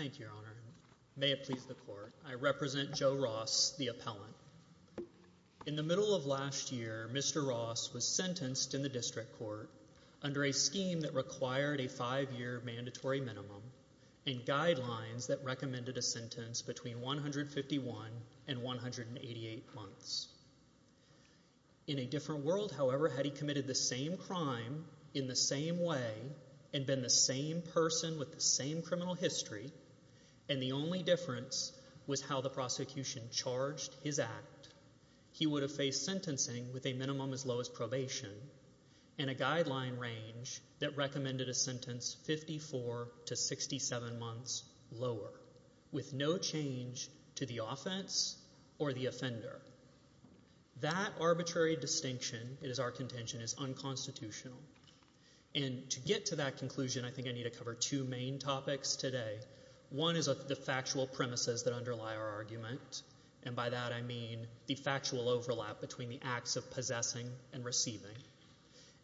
In the middle of last year, Mr. Ross was sentenced in the District Court under a scheme that required a five-year mandatory minimum and guidelines that recommended a sentence between 151 and 188 months. In a different world, however, had he committed the same crime in the same way and been the same person with the same criminal history, and the only difference was how the prosecution charged his act, he would have faced sentencing with a minimum as low as probation and a guideline range that recommended a sentence 54 to 67 months lower, with no change to the offense or the offender. That arbitrary distinction, it is our contention, is unconstitutional. And to get to that conclusion, I think I need to cover two main topics today. One is the factual premises that underlie our argument, and by that I mean the factual overlap between the acts of possessing and receiving.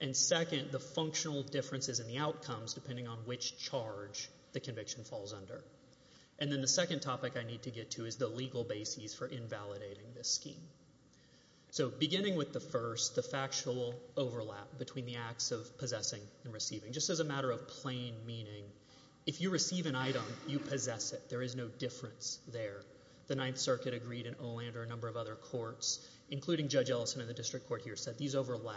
And second, the functional differences in the outcomes depending on which charge the conviction falls under. And then the second topic I need to get to is the legal basis for invalidating this scheme. So, beginning with the first, the factual overlap between the acts of possessing and receiving. Just as a matter of plain meaning, if you receive an item, you possess it. There is no difference there. The Ninth Circuit agreed, and Olander and a number of other courts, including Judge Ellison in the district court here, said these overlap.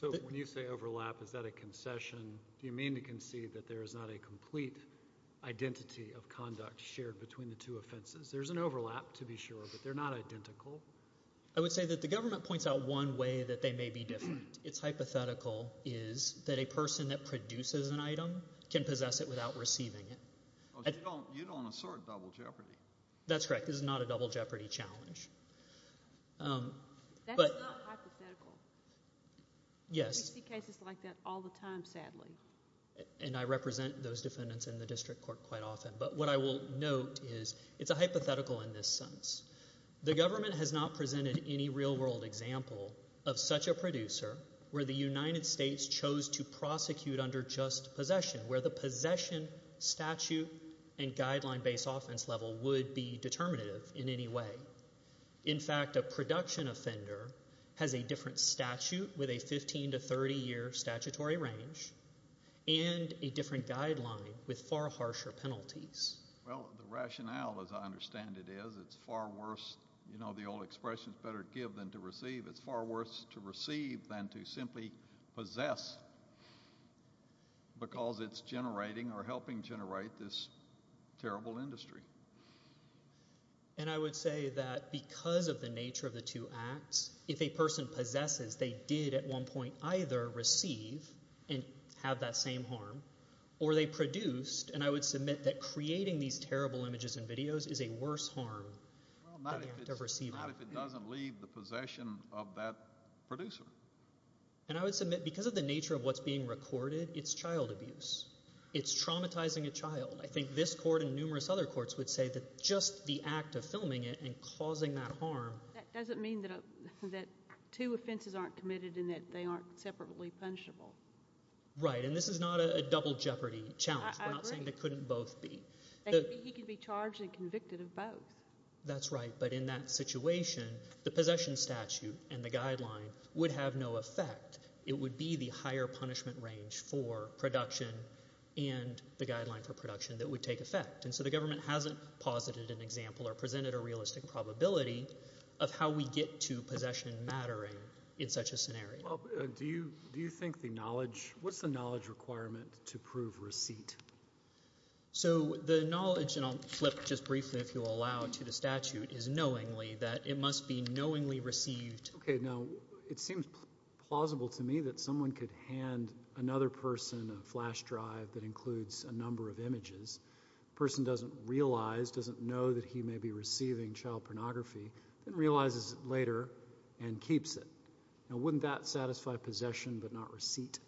So, when you say overlap, is that a concession? Do you mean to concede that there is not a complete identity of conduct shared between the two offenses? There is an overlap, to be sure, but they are not identical. I would say that the government points out one way that they may be different. It's hypothetical is that a person that produces an item can possess it without receiving it. You don't assert double jeopardy. That's correct. This is not a double jeopardy challenge. That's not hypothetical. Yes. We see cases like that all the time, sadly. And I represent those defendants in the district court quite often. But what I will note is it's a hypothetical in this sense. The government has not presented any real-world example of such a producer where the United States chose to prosecute under just possession, where the possession statute and guideline-based offense level would be determinative in any way. In fact, a production offender has a different statute with a 15 to 30-year statutory range and a different guideline with far harsher penalties. Well, the rationale, as I understand it, is it's far worse, you know, the old expression is better to give than to receive. It's far worse to receive than to simply possess because it's generating or helping generate this terrible industry. And I would say that because of the nature of the two acts, if a person possesses, they did at one point either receive and have that same harm, or they produced, and I would submit that creating these terrible images and videos is a worse harm than the act of receiving. Well, not if it doesn't leave the possession of that producer. And I would submit because of the nature of what's being recorded, it's child abuse. It's traumatizing a child. I think this court and numerous other courts would say that just the act of filming it and causing that harm... That doesn't mean that two offenses aren't committed and that they aren't separately punishable. Right. And this is not a double jeopardy challenge. I agree. We're not saying they couldn't both be. He could be charged and convicted of both. That's right. But in that situation, the possession statute and the guideline would have no effect. It would be the higher punishment range for production and the guideline for production that would take effect. And so the government hasn't posited an example or presented a realistic probability of how we get to possession mattering in such a scenario. Do you think the knowledge... What's the knowledge requirement to prove receipt? So the knowledge, and I'll flip just briefly if you'll allow to the statute, is knowingly that it must be knowingly received. Okay. Now, it seems plausible to me that someone could hand another person a flash drive that a person doesn't realize, doesn't know that he may be receiving child pornography, then realizes it later and keeps it. Now, wouldn't that satisfy possession but not receipt?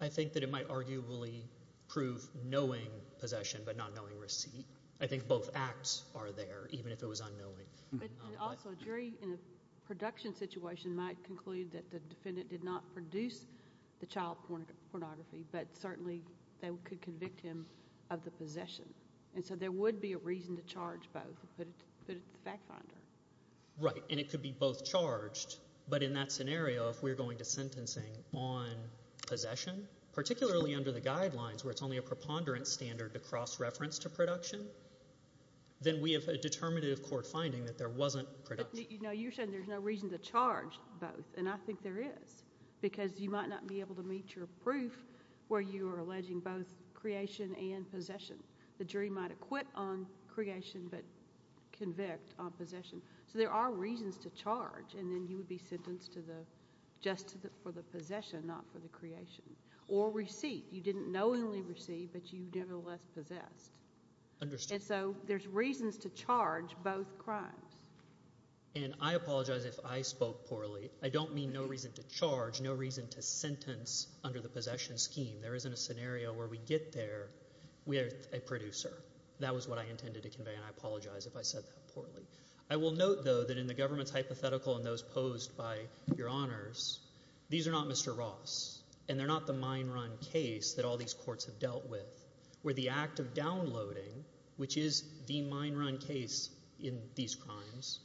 I think that it might arguably prove knowing possession but not knowing receipt. I think both acts are there, even if it was unknowing. Also, a jury in a production situation might conclude that the defendant did not produce the child pornography, but certainly they could convict him of the possession. And so there would be a reason to charge both and put it to the fact finder. Right. And it could be both charged. But in that scenario, if we're going to sentencing on possession, particularly under the guidelines where it's only a preponderance standard to cross-reference to production, then we have a determinative court finding that there wasn't production. But, you know, you're saying there's no reason to charge both, and I think there is. Because you might not be able to meet your proof where you are alleging both creation and possession. The jury might acquit on creation but convict on possession. So there are reasons to charge, and then you would be sentenced to the—just for the possession, not for the creation. Or receipt. You didn't knowingly receive, but you nevertheless possessed. Understood. And so there's reasons to charge both crimes. And I apologize if I spoke poorly. I don't mean no reason to charge, no reason to sentence under the possession scheme. There isn't a scenario where we get there with a producer. That was what I intended to convey, and I apologize if I said that poorly. I will note, though, that in the government's hypothetical and those posed by your honors, these are not Mr. Ross. And they're not the mine run case that all these courts have dealt with. Where the act of downloading, which is the mine run case in these crimes,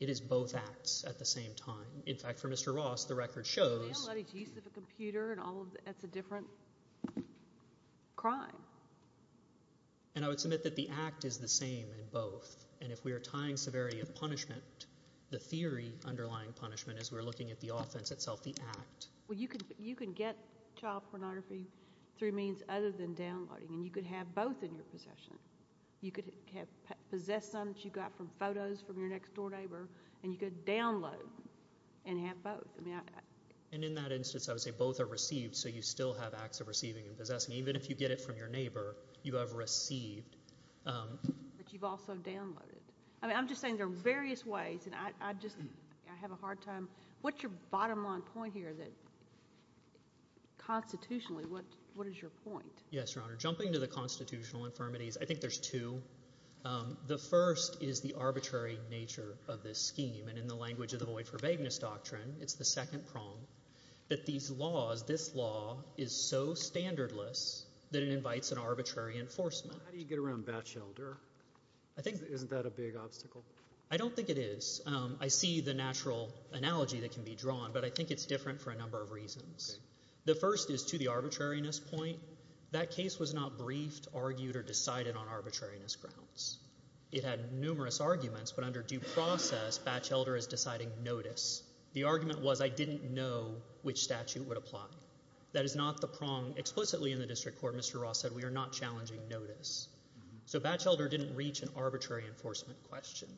it is both acts at the same time. In fact, for Mr. Ross, the record shows— Downloading to use of a computer and all of that's a different crime. And I would submit that the act is the same in both. And if we are tying severity of punishment, the theory underlying punishment is we're looking at the offense itself, the act. Well, you can get child pornography through means other than downloading, and you could have both in your possession. You could possess some that you got from photos from your next door neighbor, and you could download and have both. And in that instance, I would say both are received, so you still have acts of receiving and possessing. Even if you get it from your neighbor, you have received. But you've also downloaded. I'm just saying there are various ways, and I just—I have a hard time—what's your bottom line point here that—constitutionally, what is your point? Yes, Your Honor. Jumping to the constitutional infirmities, I think there's two. The first is the arbitrary nature of this scheme, and in the language of the Void for Vagueness Doctrine, it's the second prong, that these laws, this law is so standardless that it invites an arbitrary enforcement. How do you get around Batchelder? Isn't that a big obstacle? I don't think it is. I see the natural analogy that can be drawn, but I think it's different for a number of reasons. The first is, to the arbitrariness point, that case was not briefed, argued, or decided on arbitrariness grounds. It had numerous arguments, but under due process, Batchelder is deciding notice. The argument was, I didn't know which statute would apply. That is not the prong. Explicitly in the district court, Mr. Ross said, we are not challenging notice. So Batchelder didn't reach an arbitrary enforcement question.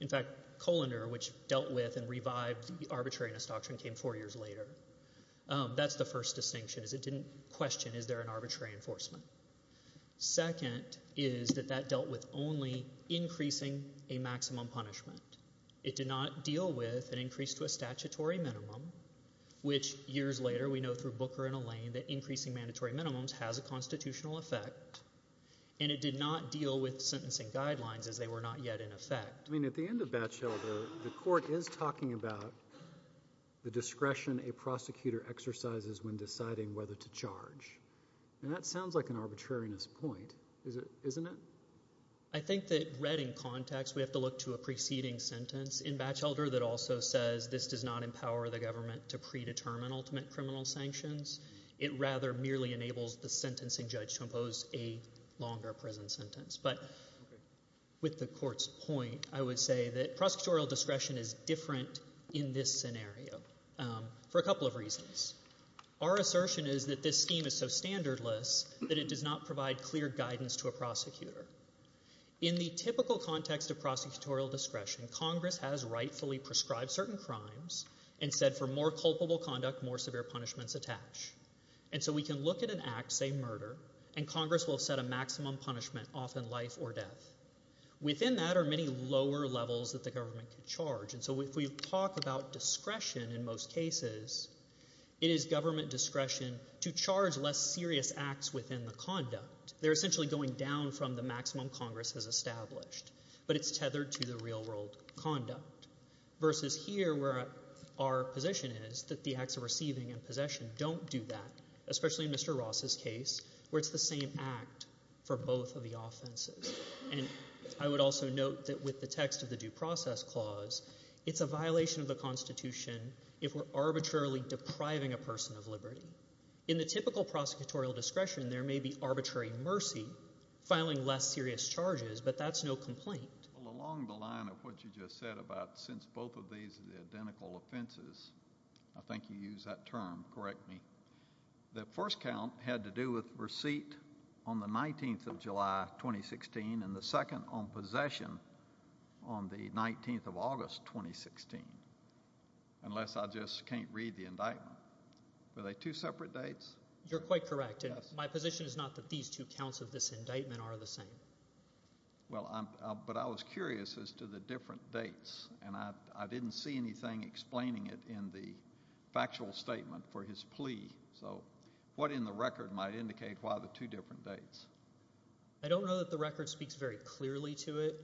In fact, Kohler, which dealt with and revived the arbitrariness doctrine, came four years later. That's the first distinction, is it didn't question, is there an arbitrary enforcement? Second, is that that dealt with only increasing a maximum punishment. It did not deal with an increase to a statutory minimum, which years later, we know through Booker and Allain, that increasing mandatory minimums has a constitutional effect, and it did not deal with sentencing guidelines, as they were not yet in effect. I mean, at the end of Batchelder, the court is talking about the discretion a prosecutor exercises when deciding whether to charge. And that sounds like an arbitrariness point, isn't it? I think that read in context, we have to look to a preceding sentence in Batchelder that also says this does not empower the government to predetermine ultimate criminal sanctions. It rather merely enables the sentencing judge to impose a longer prison sentence. But with the court's point, I would say that prosecutorial discretion is different in this scenario for a couple of reasons. Our assertion is that this scheme is so standardless that it does not provide clear guidance to a prosecutor. In the typical context of prosecutorial discretion, Congress has rightfully prescribed certain crimes and said for more culpable conduct, more severe punishments attach. And so we can look at an act, say murder, and Congress will set a maximum punishment, often life or death. Within that are many lower levels that the government could charge. So if we talk about discretion in most cases, it is government discretion to charge less serious acts within the conduct. They're essentially going down from the maximum Congress has established. But it's tethered to the real world conduct. Versus here where our position is that the acts of receiving and possession don't do that, especially in Mr. Ross's case where it's the same act for both of the offenses. And I would also note that with the text of the Due Process Clause, it's a violation of the Constitution if we're arbitrarily depriving a person of liberty. In the typical prosecutorial discretion, there may be arbitrary mercy filing less serious charges, but that's no complaint. Well, along the line of what you just said about since both of these are the identical offenses, I think you used that term, correct me, the first count had to do with receipt on the 19th of July, 2016, and the second on possession on the 19th of August, 2016, unless I just can't read the indictment. Were they two separate dates? You're quite correct. My position is not that these two counts of this indictment are the same. But I was curious as to the different dates. And I didn't see anything explaining it in the factual statement for his plea. So what in the record might indicate why the two different dates? I don't know that the record speaks very clearly to it.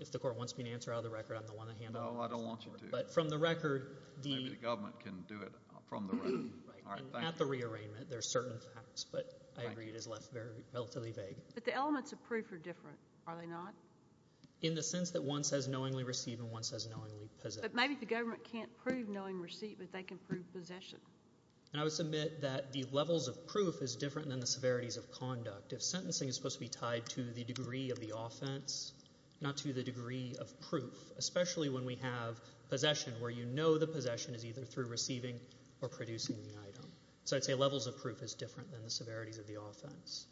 If the Court wants me to answer out of the record, I'm the one to handle it. No, I don't want you to. But from the record, the... Maybe the government can do it from the record. All right, thank you. And at the rearrangement, there's certain facts, but I agree it is left relatively vague. But the elements of proof are different, are they not? In the sense that one says knowingly receive and one says knowingly possess. But maybe the government can't prove knowing receipt, but they can prove possession. And I would submit that the levels of proof is different than the severities of conduct. If sentencing is supposed to be tied to the degree of the offense, not to the degree of proof, especially when we have possession where you know the possession is either through receiving or producing the item. So I'd say levels of proof is different than the severities of the offense.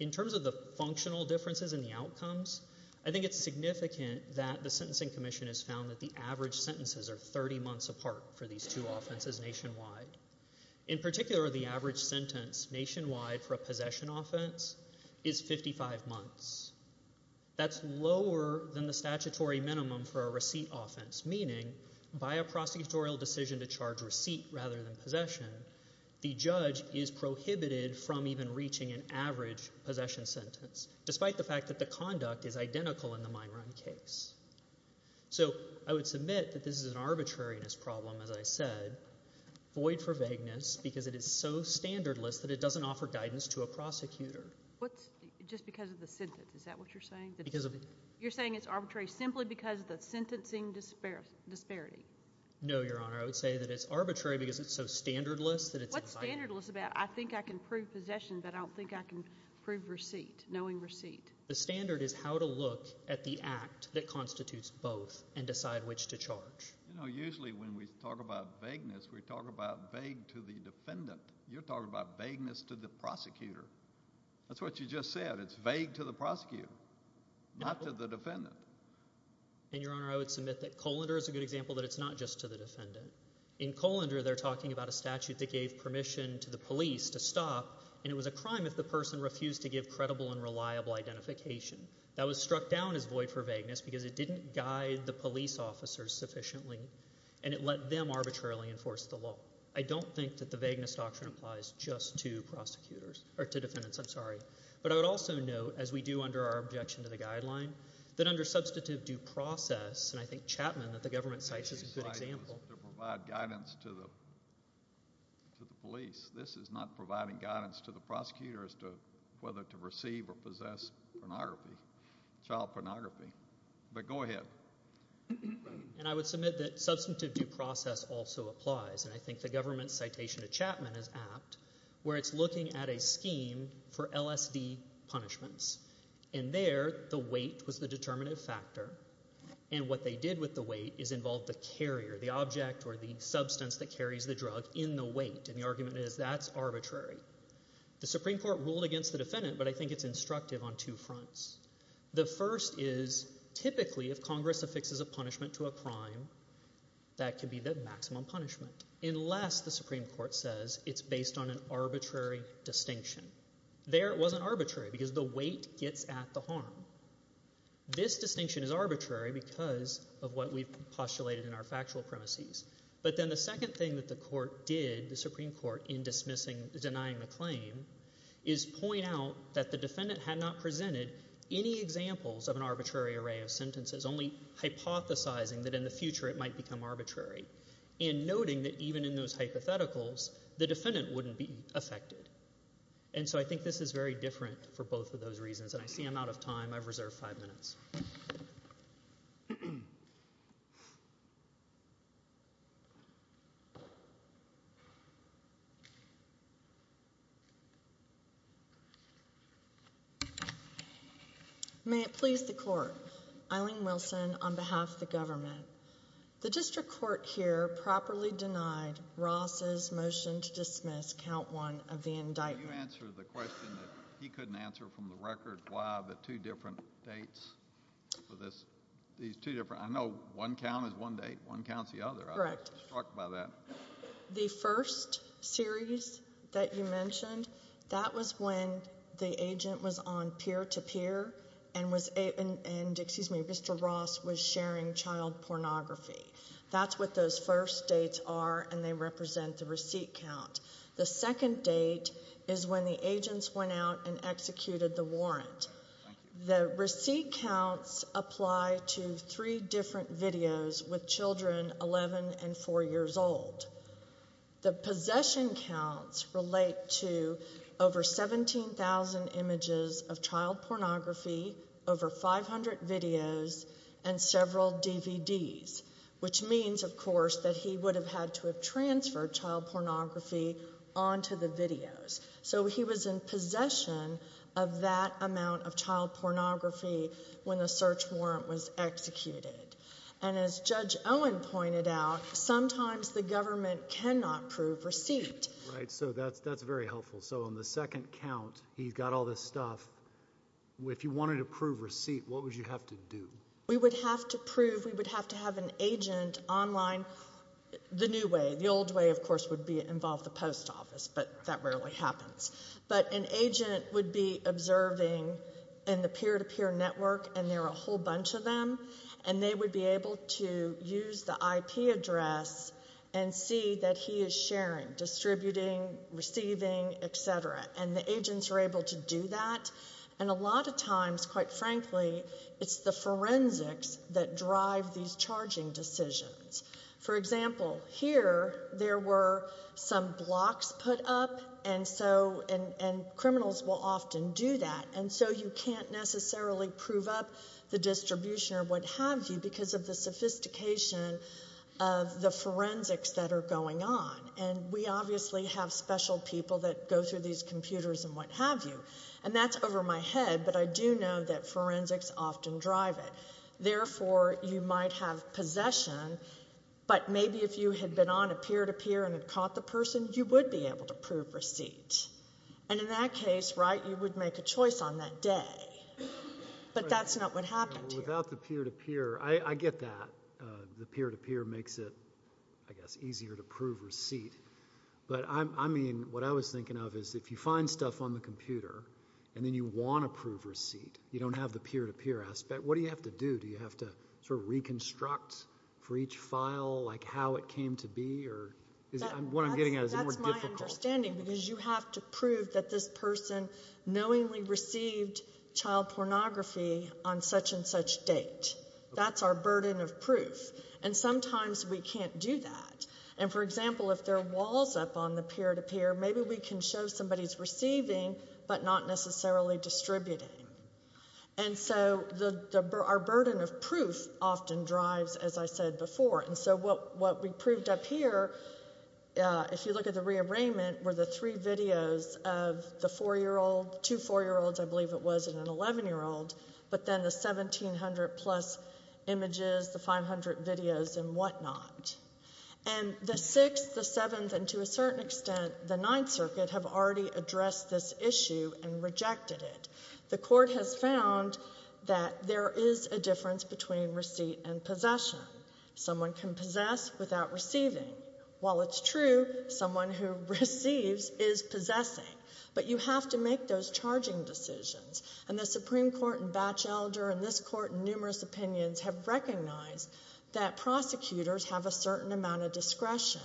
In terms of the functional differences in the outcomes, I think it's significant that the Sentencing Commission has found that the average sentences are 30 months apart for these two offenses nationwide. In particular, the average sentence nationwide for a possession offense is 55 months. That's lower than the statutory minimum for a receipt offense, meaning by a prosecutorial decision to charge receipt rather than possession, the judge is prohibited from even reaching an average possession sentence, despite the fact that the conduct is identical in the mine run case. So I would submit that this is an arbitrariness problem, as I said, void for vagueness, because it is so standardless that it doesn't offer guidance to a prosecutor. What's, just because of the sentence, is that what you're saying? Because of. You're saying it's arbitrary simply because of the sentencing disparity. No, Your Honor, I would say that it's arbitrary because it's so standardless that it's. What's standardless about I think I can prove possession, but I don't think I can prove receipt, knowing receipt? The standard is how to look at the act that constitutes both and decide which to charge. You know, usually when we talk about vagueness, we talk about vague to the defendant. You're talking about vagueness to the prosecutor. That's what you just said. It's vague to the prosecutor, not to the defendant. And, Your Honor, I would submit that Colander is a good example that it's not just to the defendant. In Colander, they're talking about a statute that gave permission to the police to stop, and it was a crime if the person refused to give credible and reliable identification. That was struck down as void for vagueness because it didn't guide the police officers sufficiently, and it let them arbitrarily enforce the law. I don't think that the vagueness doctrine applies just to prosecutors, or to defendants, I'm sorry. But I would also note, as we do under our objection to the guideline, that under substantive due process, and I think Chapman that the government cites is a good example. To provide guidance to the police. This is not providing guidance to the prosecutor as to whether to receive or possess pornography, child pornography. But go ahead. And I would submit that substantive due process also applies, and I think the government's citation to Chapman is apt, where it's looking at a scheme for LSD punishments. And there, the weight was the determinative factor. And what they did with the weight is involve the carrier, the object, or the substance that carries the drug in the weight. And the argument is that's arbitrary. The Supreme Court ruled against the defendant, but I think it's instructive on two fronts. The first is, typically, if Congress affixes a punishment to a crime, that could be the maximum punishment. Unless the Supreme Court says it's based on an arbitrary distinction. There, it wasn't arbitrary, because the weight gets at the harm. This distinction is arbitrary because of what we've postulated in our factual premises. But then the second thing that the court did, the Supreme Court, in dismissing, denying the claim, is point out that the defendant had not presented any examples of an arbitrary array of sentences, only hypothesizing that in the future it might become arbitrary. And noting that even in those hypotheticals, the defendant wouldn't be affected. And so I think this is very different for both of those reasons. And I see I'm out of time. I've reserved five minutes. May it please the court, Eileen Wilson, on behalf of the government. The district court here properly denied Ross's motion to dismiss count one of the indictment. Can you answer the question that he couldn't answer from the record? Why the two different dates for this? These two different, I know one count is one date. One count's the other. I was struck by that. The first series that you mentioned, that was when the agent was on peer-to-peer and was, excuse me, Mr. Ross was sharing child pornography. That's what those first dates are and they represent the receipt count. The second date is when the agents went out and executed the warrant. The receipt counts apply to three different videos with children 11 and four years old. The possession counts relate to over 17,000 images of child pornography, over 500 videos, and several DVDs, which means, of course, that he would have had to have transferred child pornography onto the videos. He was in possession of that amount of child pornography when the search warrant was executed. As Judge Owen pointed out, sometimes the government cannot prove receipt. That's very helpful. On the second count, he's got all this stuff. If you wanted to prove receipt, what would you have to do? We would have to prove, we would have to have an agent online the new way. The old way, of course, would involve the post office, but that rarely happens. But an agent would be observing in the peer-to-peer network and there are a whole bunch of them, and they would be able to use the IP address and see that he is sharing, distributing, receiving, et cetera. And the agents are able to do that. And a lot of times, quite frankly, it's the forensics that drive these charging decisions. For example, here, there were some blocks put up, and criminals will often do that. And so you can't necessarily prove up the distribution or what have you because of the sophistication of the forensics that are going on. And we obviously have special people that go through these computers and what have you. And that's over my head, but I do know that forensics often drive it. Therefore, you might have possession, but maybe if you had been on a peer-to-peer and had caught the person, you would be able to prove receipt. And in that case, right, you would make a choice on that day. But that's not what happened here. Without the peer-to-peer, I get that. The peer-to-peer makes it, I guess, easier to prove receipt. But I mean, what I was thinking of is if you find stuff on the computer and then you want to prove receipt, you don't have the peer-to-peer aspect, what do you have to do? Do you have to sort of reconstruct for each file, like, how it came to be? Or is it... What I'm getting at, is it more difficult? That's my understanding because you have to prove that this person knowingly received child pornography on such-and-such date. That's our burden of proof. And sometimes we can't do that. And for example, if there are walls up on the peer-to-peer, maybe we can show somebody's receiving but not necessarily distributing. And so our burden of proof often drives, as I said before. And so what we proved up here, if you look at the rearrangement, were the three videos of the four-year-old, two four-year-olds, I believe it was, and an 11-year-old, but then the 1,700-plus images, the 500 videos and whatnot. And the Sixth, the Seventh and, to a certain extent, the Ninth Circuit have already addressed this issue and rejected it. The court has found that there is a difference between receipt and possession. Someone can possess without receiving. While it's true, someone who receives is possessing. But you have to make those charging decisions. And the Supreme Court and Batchelder and this court in numerous opinions have recognised that prosecutors have a certain amount of discretion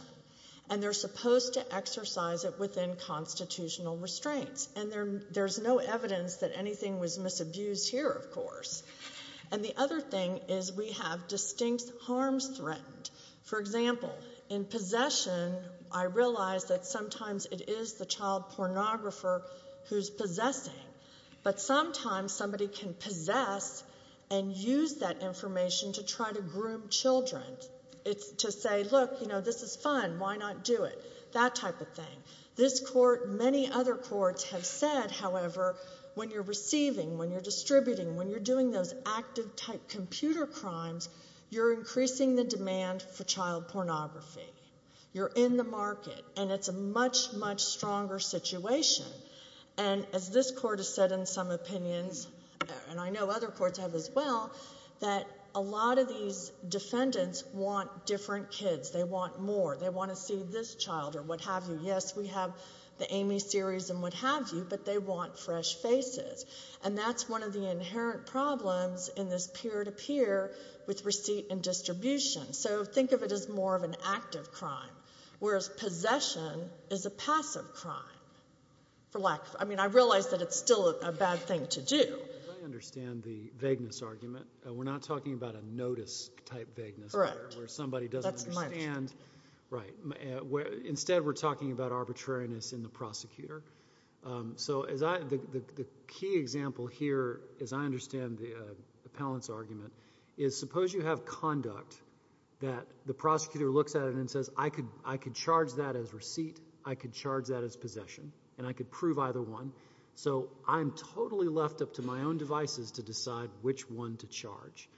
and they're supposed to exercise it within constitutional restraints. And there's no evidence that anything was misabused here, of course. And the other thing is we have distinct harms threatened. For example, in possession, I realise that sometimes it is the child pornographer who's possessing. But sometimes somebody can possess and use that information to try to groom children. It's to say, look, you know, this is fun, why not do it? That type of thing. This court, many other courts have said, however, when you're receiving, when you're distributing, when you're doing those active type computer crimes, you're increasing the demand for child pornography. You're in the market and it's a much, much stronger situation. And as this court has said in some opinions, and I know other courts have as well, that a lot of these defendants want different kids. They want more. They want to see this child or what have you. Yes, we have the Amy series and what have you, but they want fresh faces. And that's one of the inherent problems in this peer-to-peer with receipt and distribution. So think of it as more of an active crime, whereas possession is a passive crime for lack of... I mean, I realise that it's still a bad thing to do. I understand the vagueness argument. We're not talking about a notice-type vagueness here, where somebody doesn't understand... We're not talking about arbitrariness in the prosecutor. So the key example here, as I understand the appellant's argument, is suppose you have conduct that the prosecutor looks at it and says, I could charge that as receipt, I could charge that as possession, and I could prove either one. So I'm totally left up to my own devices to decide which one to charge.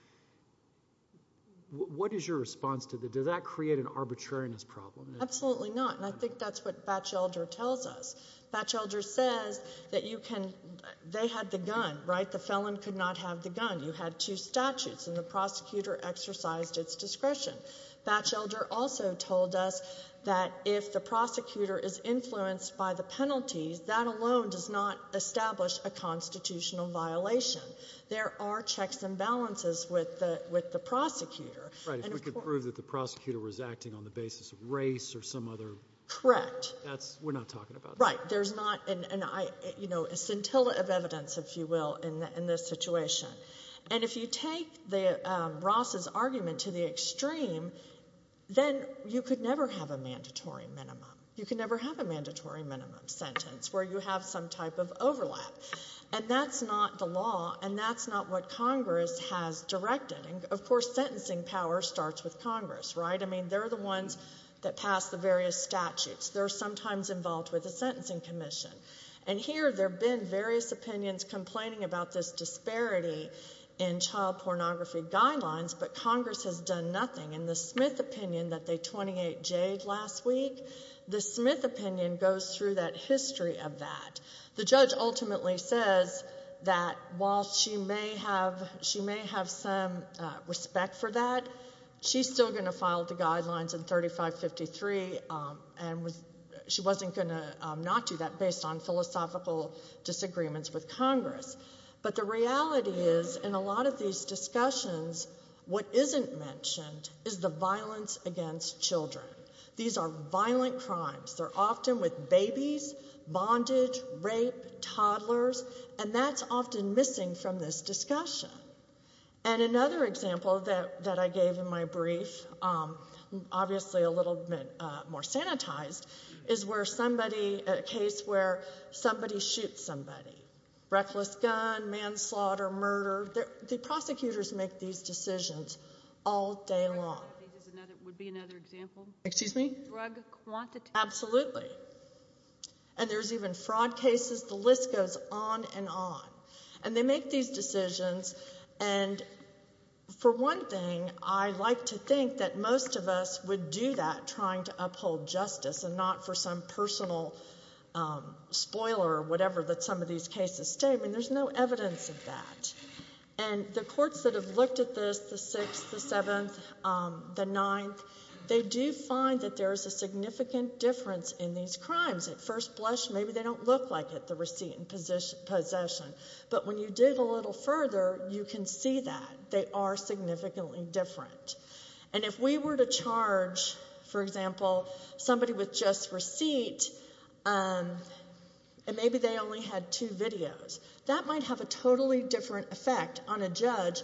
What is your response to that? Does that create an arbitrariness problem? Absolutely not, and I think that's what Batchelder tells us. Batchelder says that you can... They had the gun, right? The felon could not have the gun. You had two statutes, and the prosecutor exercised its discretion. Batchelder also told us that if the prosecutor is influenced by the penalties, that alone does not establish a constitutional violation. There are checks and balances with the prosecutor. Right, if we could prove that the prosecutor was acting on the basis of race or some other... Correct. We're not talking about that. Right, there's not an, you know, a scintilla of evidence, if you will, in this situation. And if you take Ross's argument to the extreme, then you could never have a mandatory minimum. You could never have a mandatory minimum sentence where you have some type of overlap. And that's not the law, and that's not what Congress has directed. And, of course, sentencing power starts with Congress, right? I mean, they're the ones that pass the various statutes. They're sometimes involved with the Sentencing Commission. And here, there have been various opinions complaining about this disparity in child pornography guidelines, but Congress has done nothing. And the Smith opinion that they 28-J'd last week, the Smith opinion goes through that history of that. The judge ultimately says that while she may have... ..she may have some respect for that, she's still going to file the guidelines in 3553, and she wasn't going to not do that based on philosophical disagreements with Congress. But the reality is, in a lot of these discussions, what isn't mentioned is the violence against children. These are violent crimes. They're often with babies, bondage, rape, toddlers, and that's often missing from this discussion. And another example that I gave in my brief, obviously a little bit more sanitized, is where somebody... ..a case where somebody shoots somebody. Reckless gun, manslaughter, murder. The prosecutors make these decisions all day long. Drug quantities would be another example. Excuse me? Drug quantities. Absolutely. And there's even fraud cases. The list goes on and on. And they make these decisions, and, for one thing, I like to think that most of us would do that, trying to uphold justice, and not for some personal spoiler or whatever that some of these cases state. I mean, there's no evidence of that. And the courts that have looked at this, the Sixth, the Seventh, the Ninth, they do find that there is a significant difference in these crimes. At first blush, maybe they don't look like it, but when you dig a little further, you can see that. They are significantly different. And if we were to charge, for example, somebody with just receipt, and maybe they only had two videos, that might have a totally different effect on a judge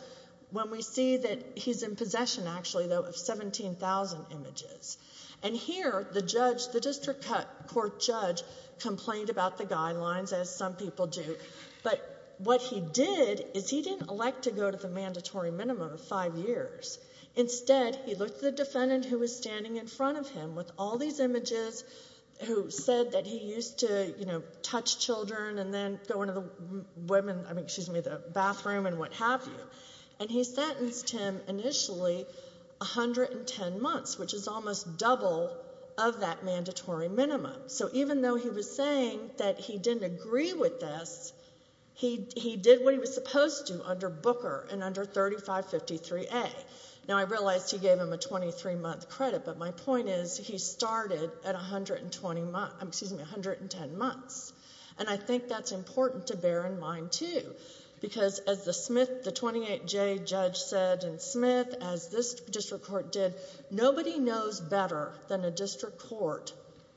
when we see that he's in possession, actually, though, of 17,000 images. And here, the judge, the district court judge, complained about the guidelines, as some people do, but what he did is he didn't elect to go to the mandatory minimum of five years. Instead, he looked at the defendant who was standing in front of him with all these images, who said that he used to touch children and then go into the women, I mean, excuse me, the bathroom and what have you, and he sentenced him, initially, 110 months, which is almost double of that mandatory minimum. So even though he was saying that he didn't agree with this, he did what he was supposed to under Booker and under 3553A. Now, I realize he gave him a 23-month credit, but my point is he started at 120, excuse me, 110 months. And I think that's important to bear in mind, too, because as the Smith, the 28J judge said, and Smith, as this district court did, nobody knows better than a district court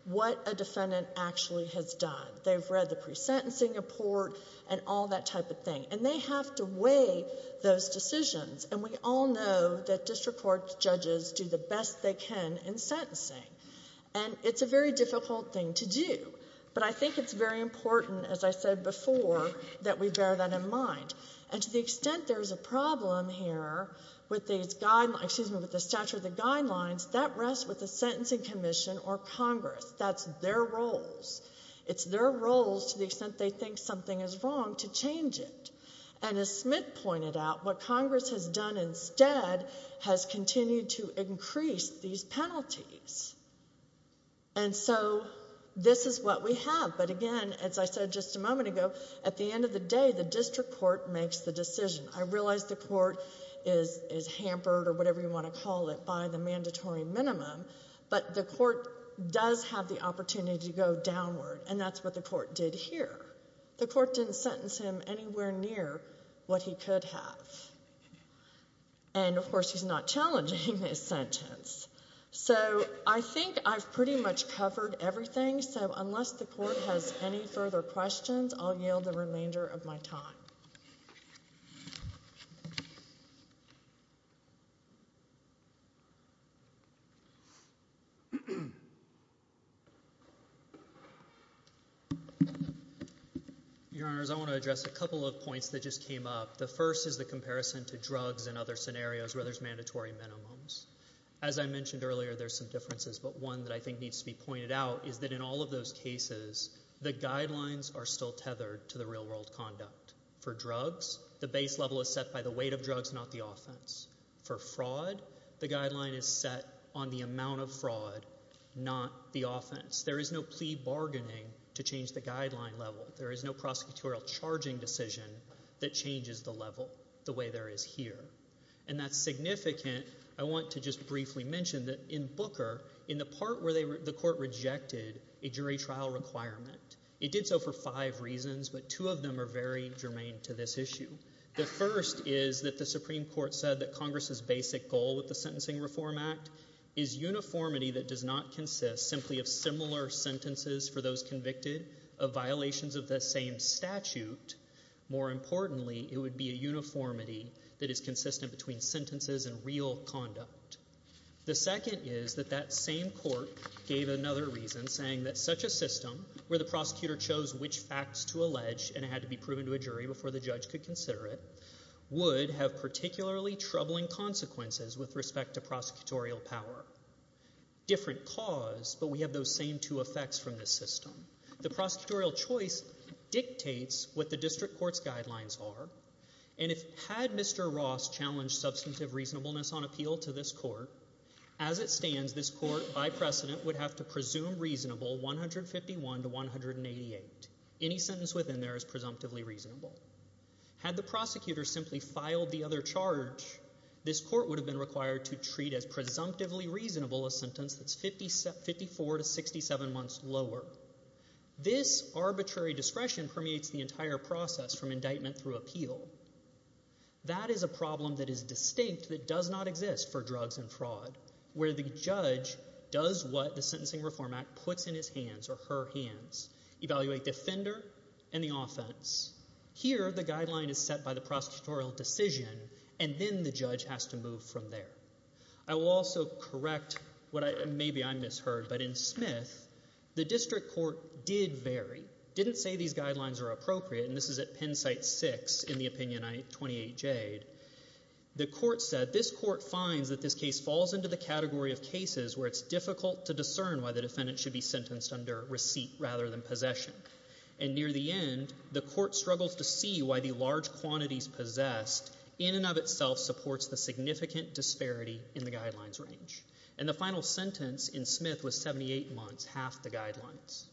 what a defendant actually has done. They've read the pre-sentencing report and all that type of thing, and they have to weigh those decisions. And we all know that district court judges do the best they can in sentencing. And it's a very difficult thing to do, but I think it's very important, as I said before, that we bear that in mind. And to the extent there's a problem here with the statute of the guidelines, that rests with the Sentencing Commission or Congress, that's their roles. It's their roles, to the extent they think something is wrong, to change it. And as Smith pointed out, what Congress has done instead has continued to increase these penalties. And so, this is what we have. But again, as I said just a moment ago, at the end of the day, the district court makes the decision. I realize the court is hampered, or whatever you want to call it, by the mandatory minimum, but the court does have the opportunity to go downward, and that's what the court did here. The court didn't sentence him anywhere near what he could have. And of course, he's not challenging his sentence. So, I think I've pretty much covered everything, so unless the court has any further questions, I'll yield the remainder of my time. Thank you. Your Honors, I want to address a couple of points that just came up. The first is the comparison to drugs and other scenarios where there's mandatory minimums. As I mentioned earlier, there's some differences, but one that I think needs to be pointed out is that in all of those cases, the guidelines are still tethered to the real world conduct. For drugs, the base level is set by the weight of drugs, not the offense. For fraud, the guideline is set on the amount of fraud, not the offense. There is no plea bargaining to change the guideline level. There is no prosecutorial charging decision that changes the level the way there is here. And that's significant. I want to just briefly mention that in Booker, in the part where the court rejected a jury trial requirement, it did so for five reasons, but two of them are very germane to this issue. The first is that the Supreme Court said that Congress's basic goal with the Sentencing Reform Act is uniformity that does not consist simply of similar sentences for those convicted of violations of the same statute. More importantly, it would be a uniformity that is consistent between sentences and real conduct. The second is that that same court gave another reason, saying that such a system, where the prosecutor chose which facts to allege and it had to be proven to a jury before the judge could consider it, would have particularly troubling consequences with respect to prosecutorial power. Different cause, but we have those same two effects from this system. The prosecutorial choice dictates what the district court's guidelines are. And had Mr. Ross challenged substantive reasonableness on appeal to this court, as it stands, this court, by precedent, would have to presume reasonable 151 to 188. Any sentence within there is presumptively reasonable. Had the prosecutor simply filed the other charge, this court would have been required to treat as presumptively reasonable a sentence that's 54 to 67 months lower. This arbitrary discretion permeates the entire process from indictment through appeal. That is a problem that is distinct that does not exist for drugs and fraud, where the judge does what the Sentencing Reform Act puts in his hands or her hands, evaluate defender and the offense. Here, the guideline is set by the prosecutorial decision, and then the judge has to move from there. I will also correct what maybe I misheard, but in Smith, the district court did vary, didn't say these guidelines are appropriate. And this is at Penn site 6 in the opinion 28 Jade. The court said, this court finds that this case falls into the category of cases where it's difficult to discern why the defendant should be sentenced under receipt rather than possession. And near the end, the court struggles to see why the large quantities possessed in and of itself supports the significant disparity in the guidelines range. And the final sentence in Smith was 78 months, half the guidelines.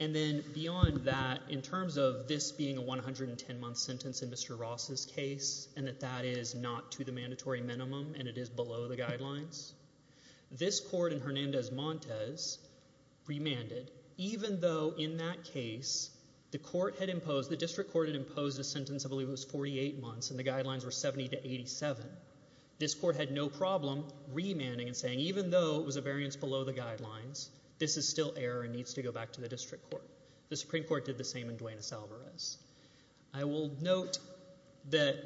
And then beyond that, in terms of this being a 110-month sentence in Mr. Ross's case, and that that is not to the mandatory minimum, and it is below the guidelines, this court in Hernandez-Montes remanded. Even though in that case, the court had imposed, the district court had imposed a sentence, I believe it was 48 months, and the guidelines were 70 to 87. This court had no problem remanding and saying, even though it was a variance below the guidelines, this is still error and needs to go back to the district court. The Supreme Court did the same in Duenas-Alvarez. I will note that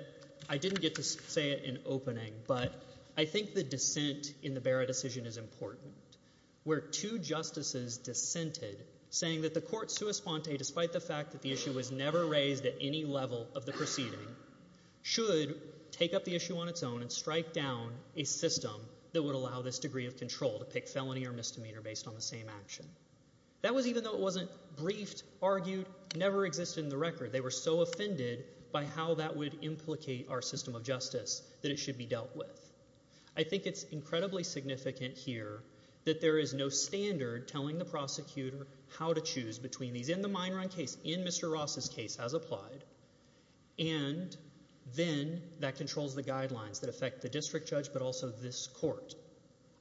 I didn't get to say it in opening, but I think the dissent in the Barra decision is important, where two justices dissented, saying that the court sui sponte, despite the fact that the issue was never raised at any level of the proceeding, should take up the issue on its own and strike down a system that would allow this degree of control to pick felony or misdemeanor based on the same action. That was even though it wasn't briefed, argued, never existed in the record. They were so offended by how that would implicate our system of justice that it should be dealt with. I think it's incredibly significant here that there is no standard telling the prosecutor how to choose between these in the Meinran case, in Mr. Ross's case as applied, and then that controls the guidelines that affect the district judge, but also this court.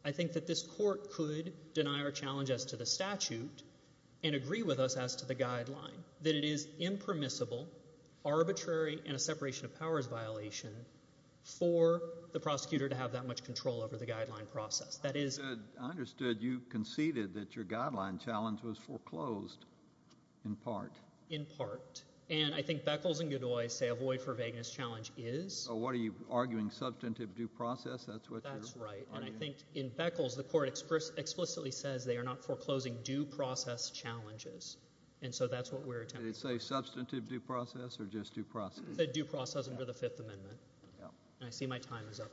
I think that this court could deny our challenge as to the statute and agree with us as to the guideline, that it is impermissible, arbitrary, and a separation of powers violation for the prosecutor to have that much control over the guideline process. That is. I understood you conceded that your guideline challenge was foreclosed in part. In part. And I think Beckles and Godoy say a void for vagueness challenge is. So what are you arguing? Substantive due process? That's what you're arguing? That's right. And I think in Beckles, the court explicitly says they are not foreclosing due process challenges. And so that's what we're attempting to do. Did it say substantive due process or just due process? It said due process under the Fifth Amendment. And I see my time is up.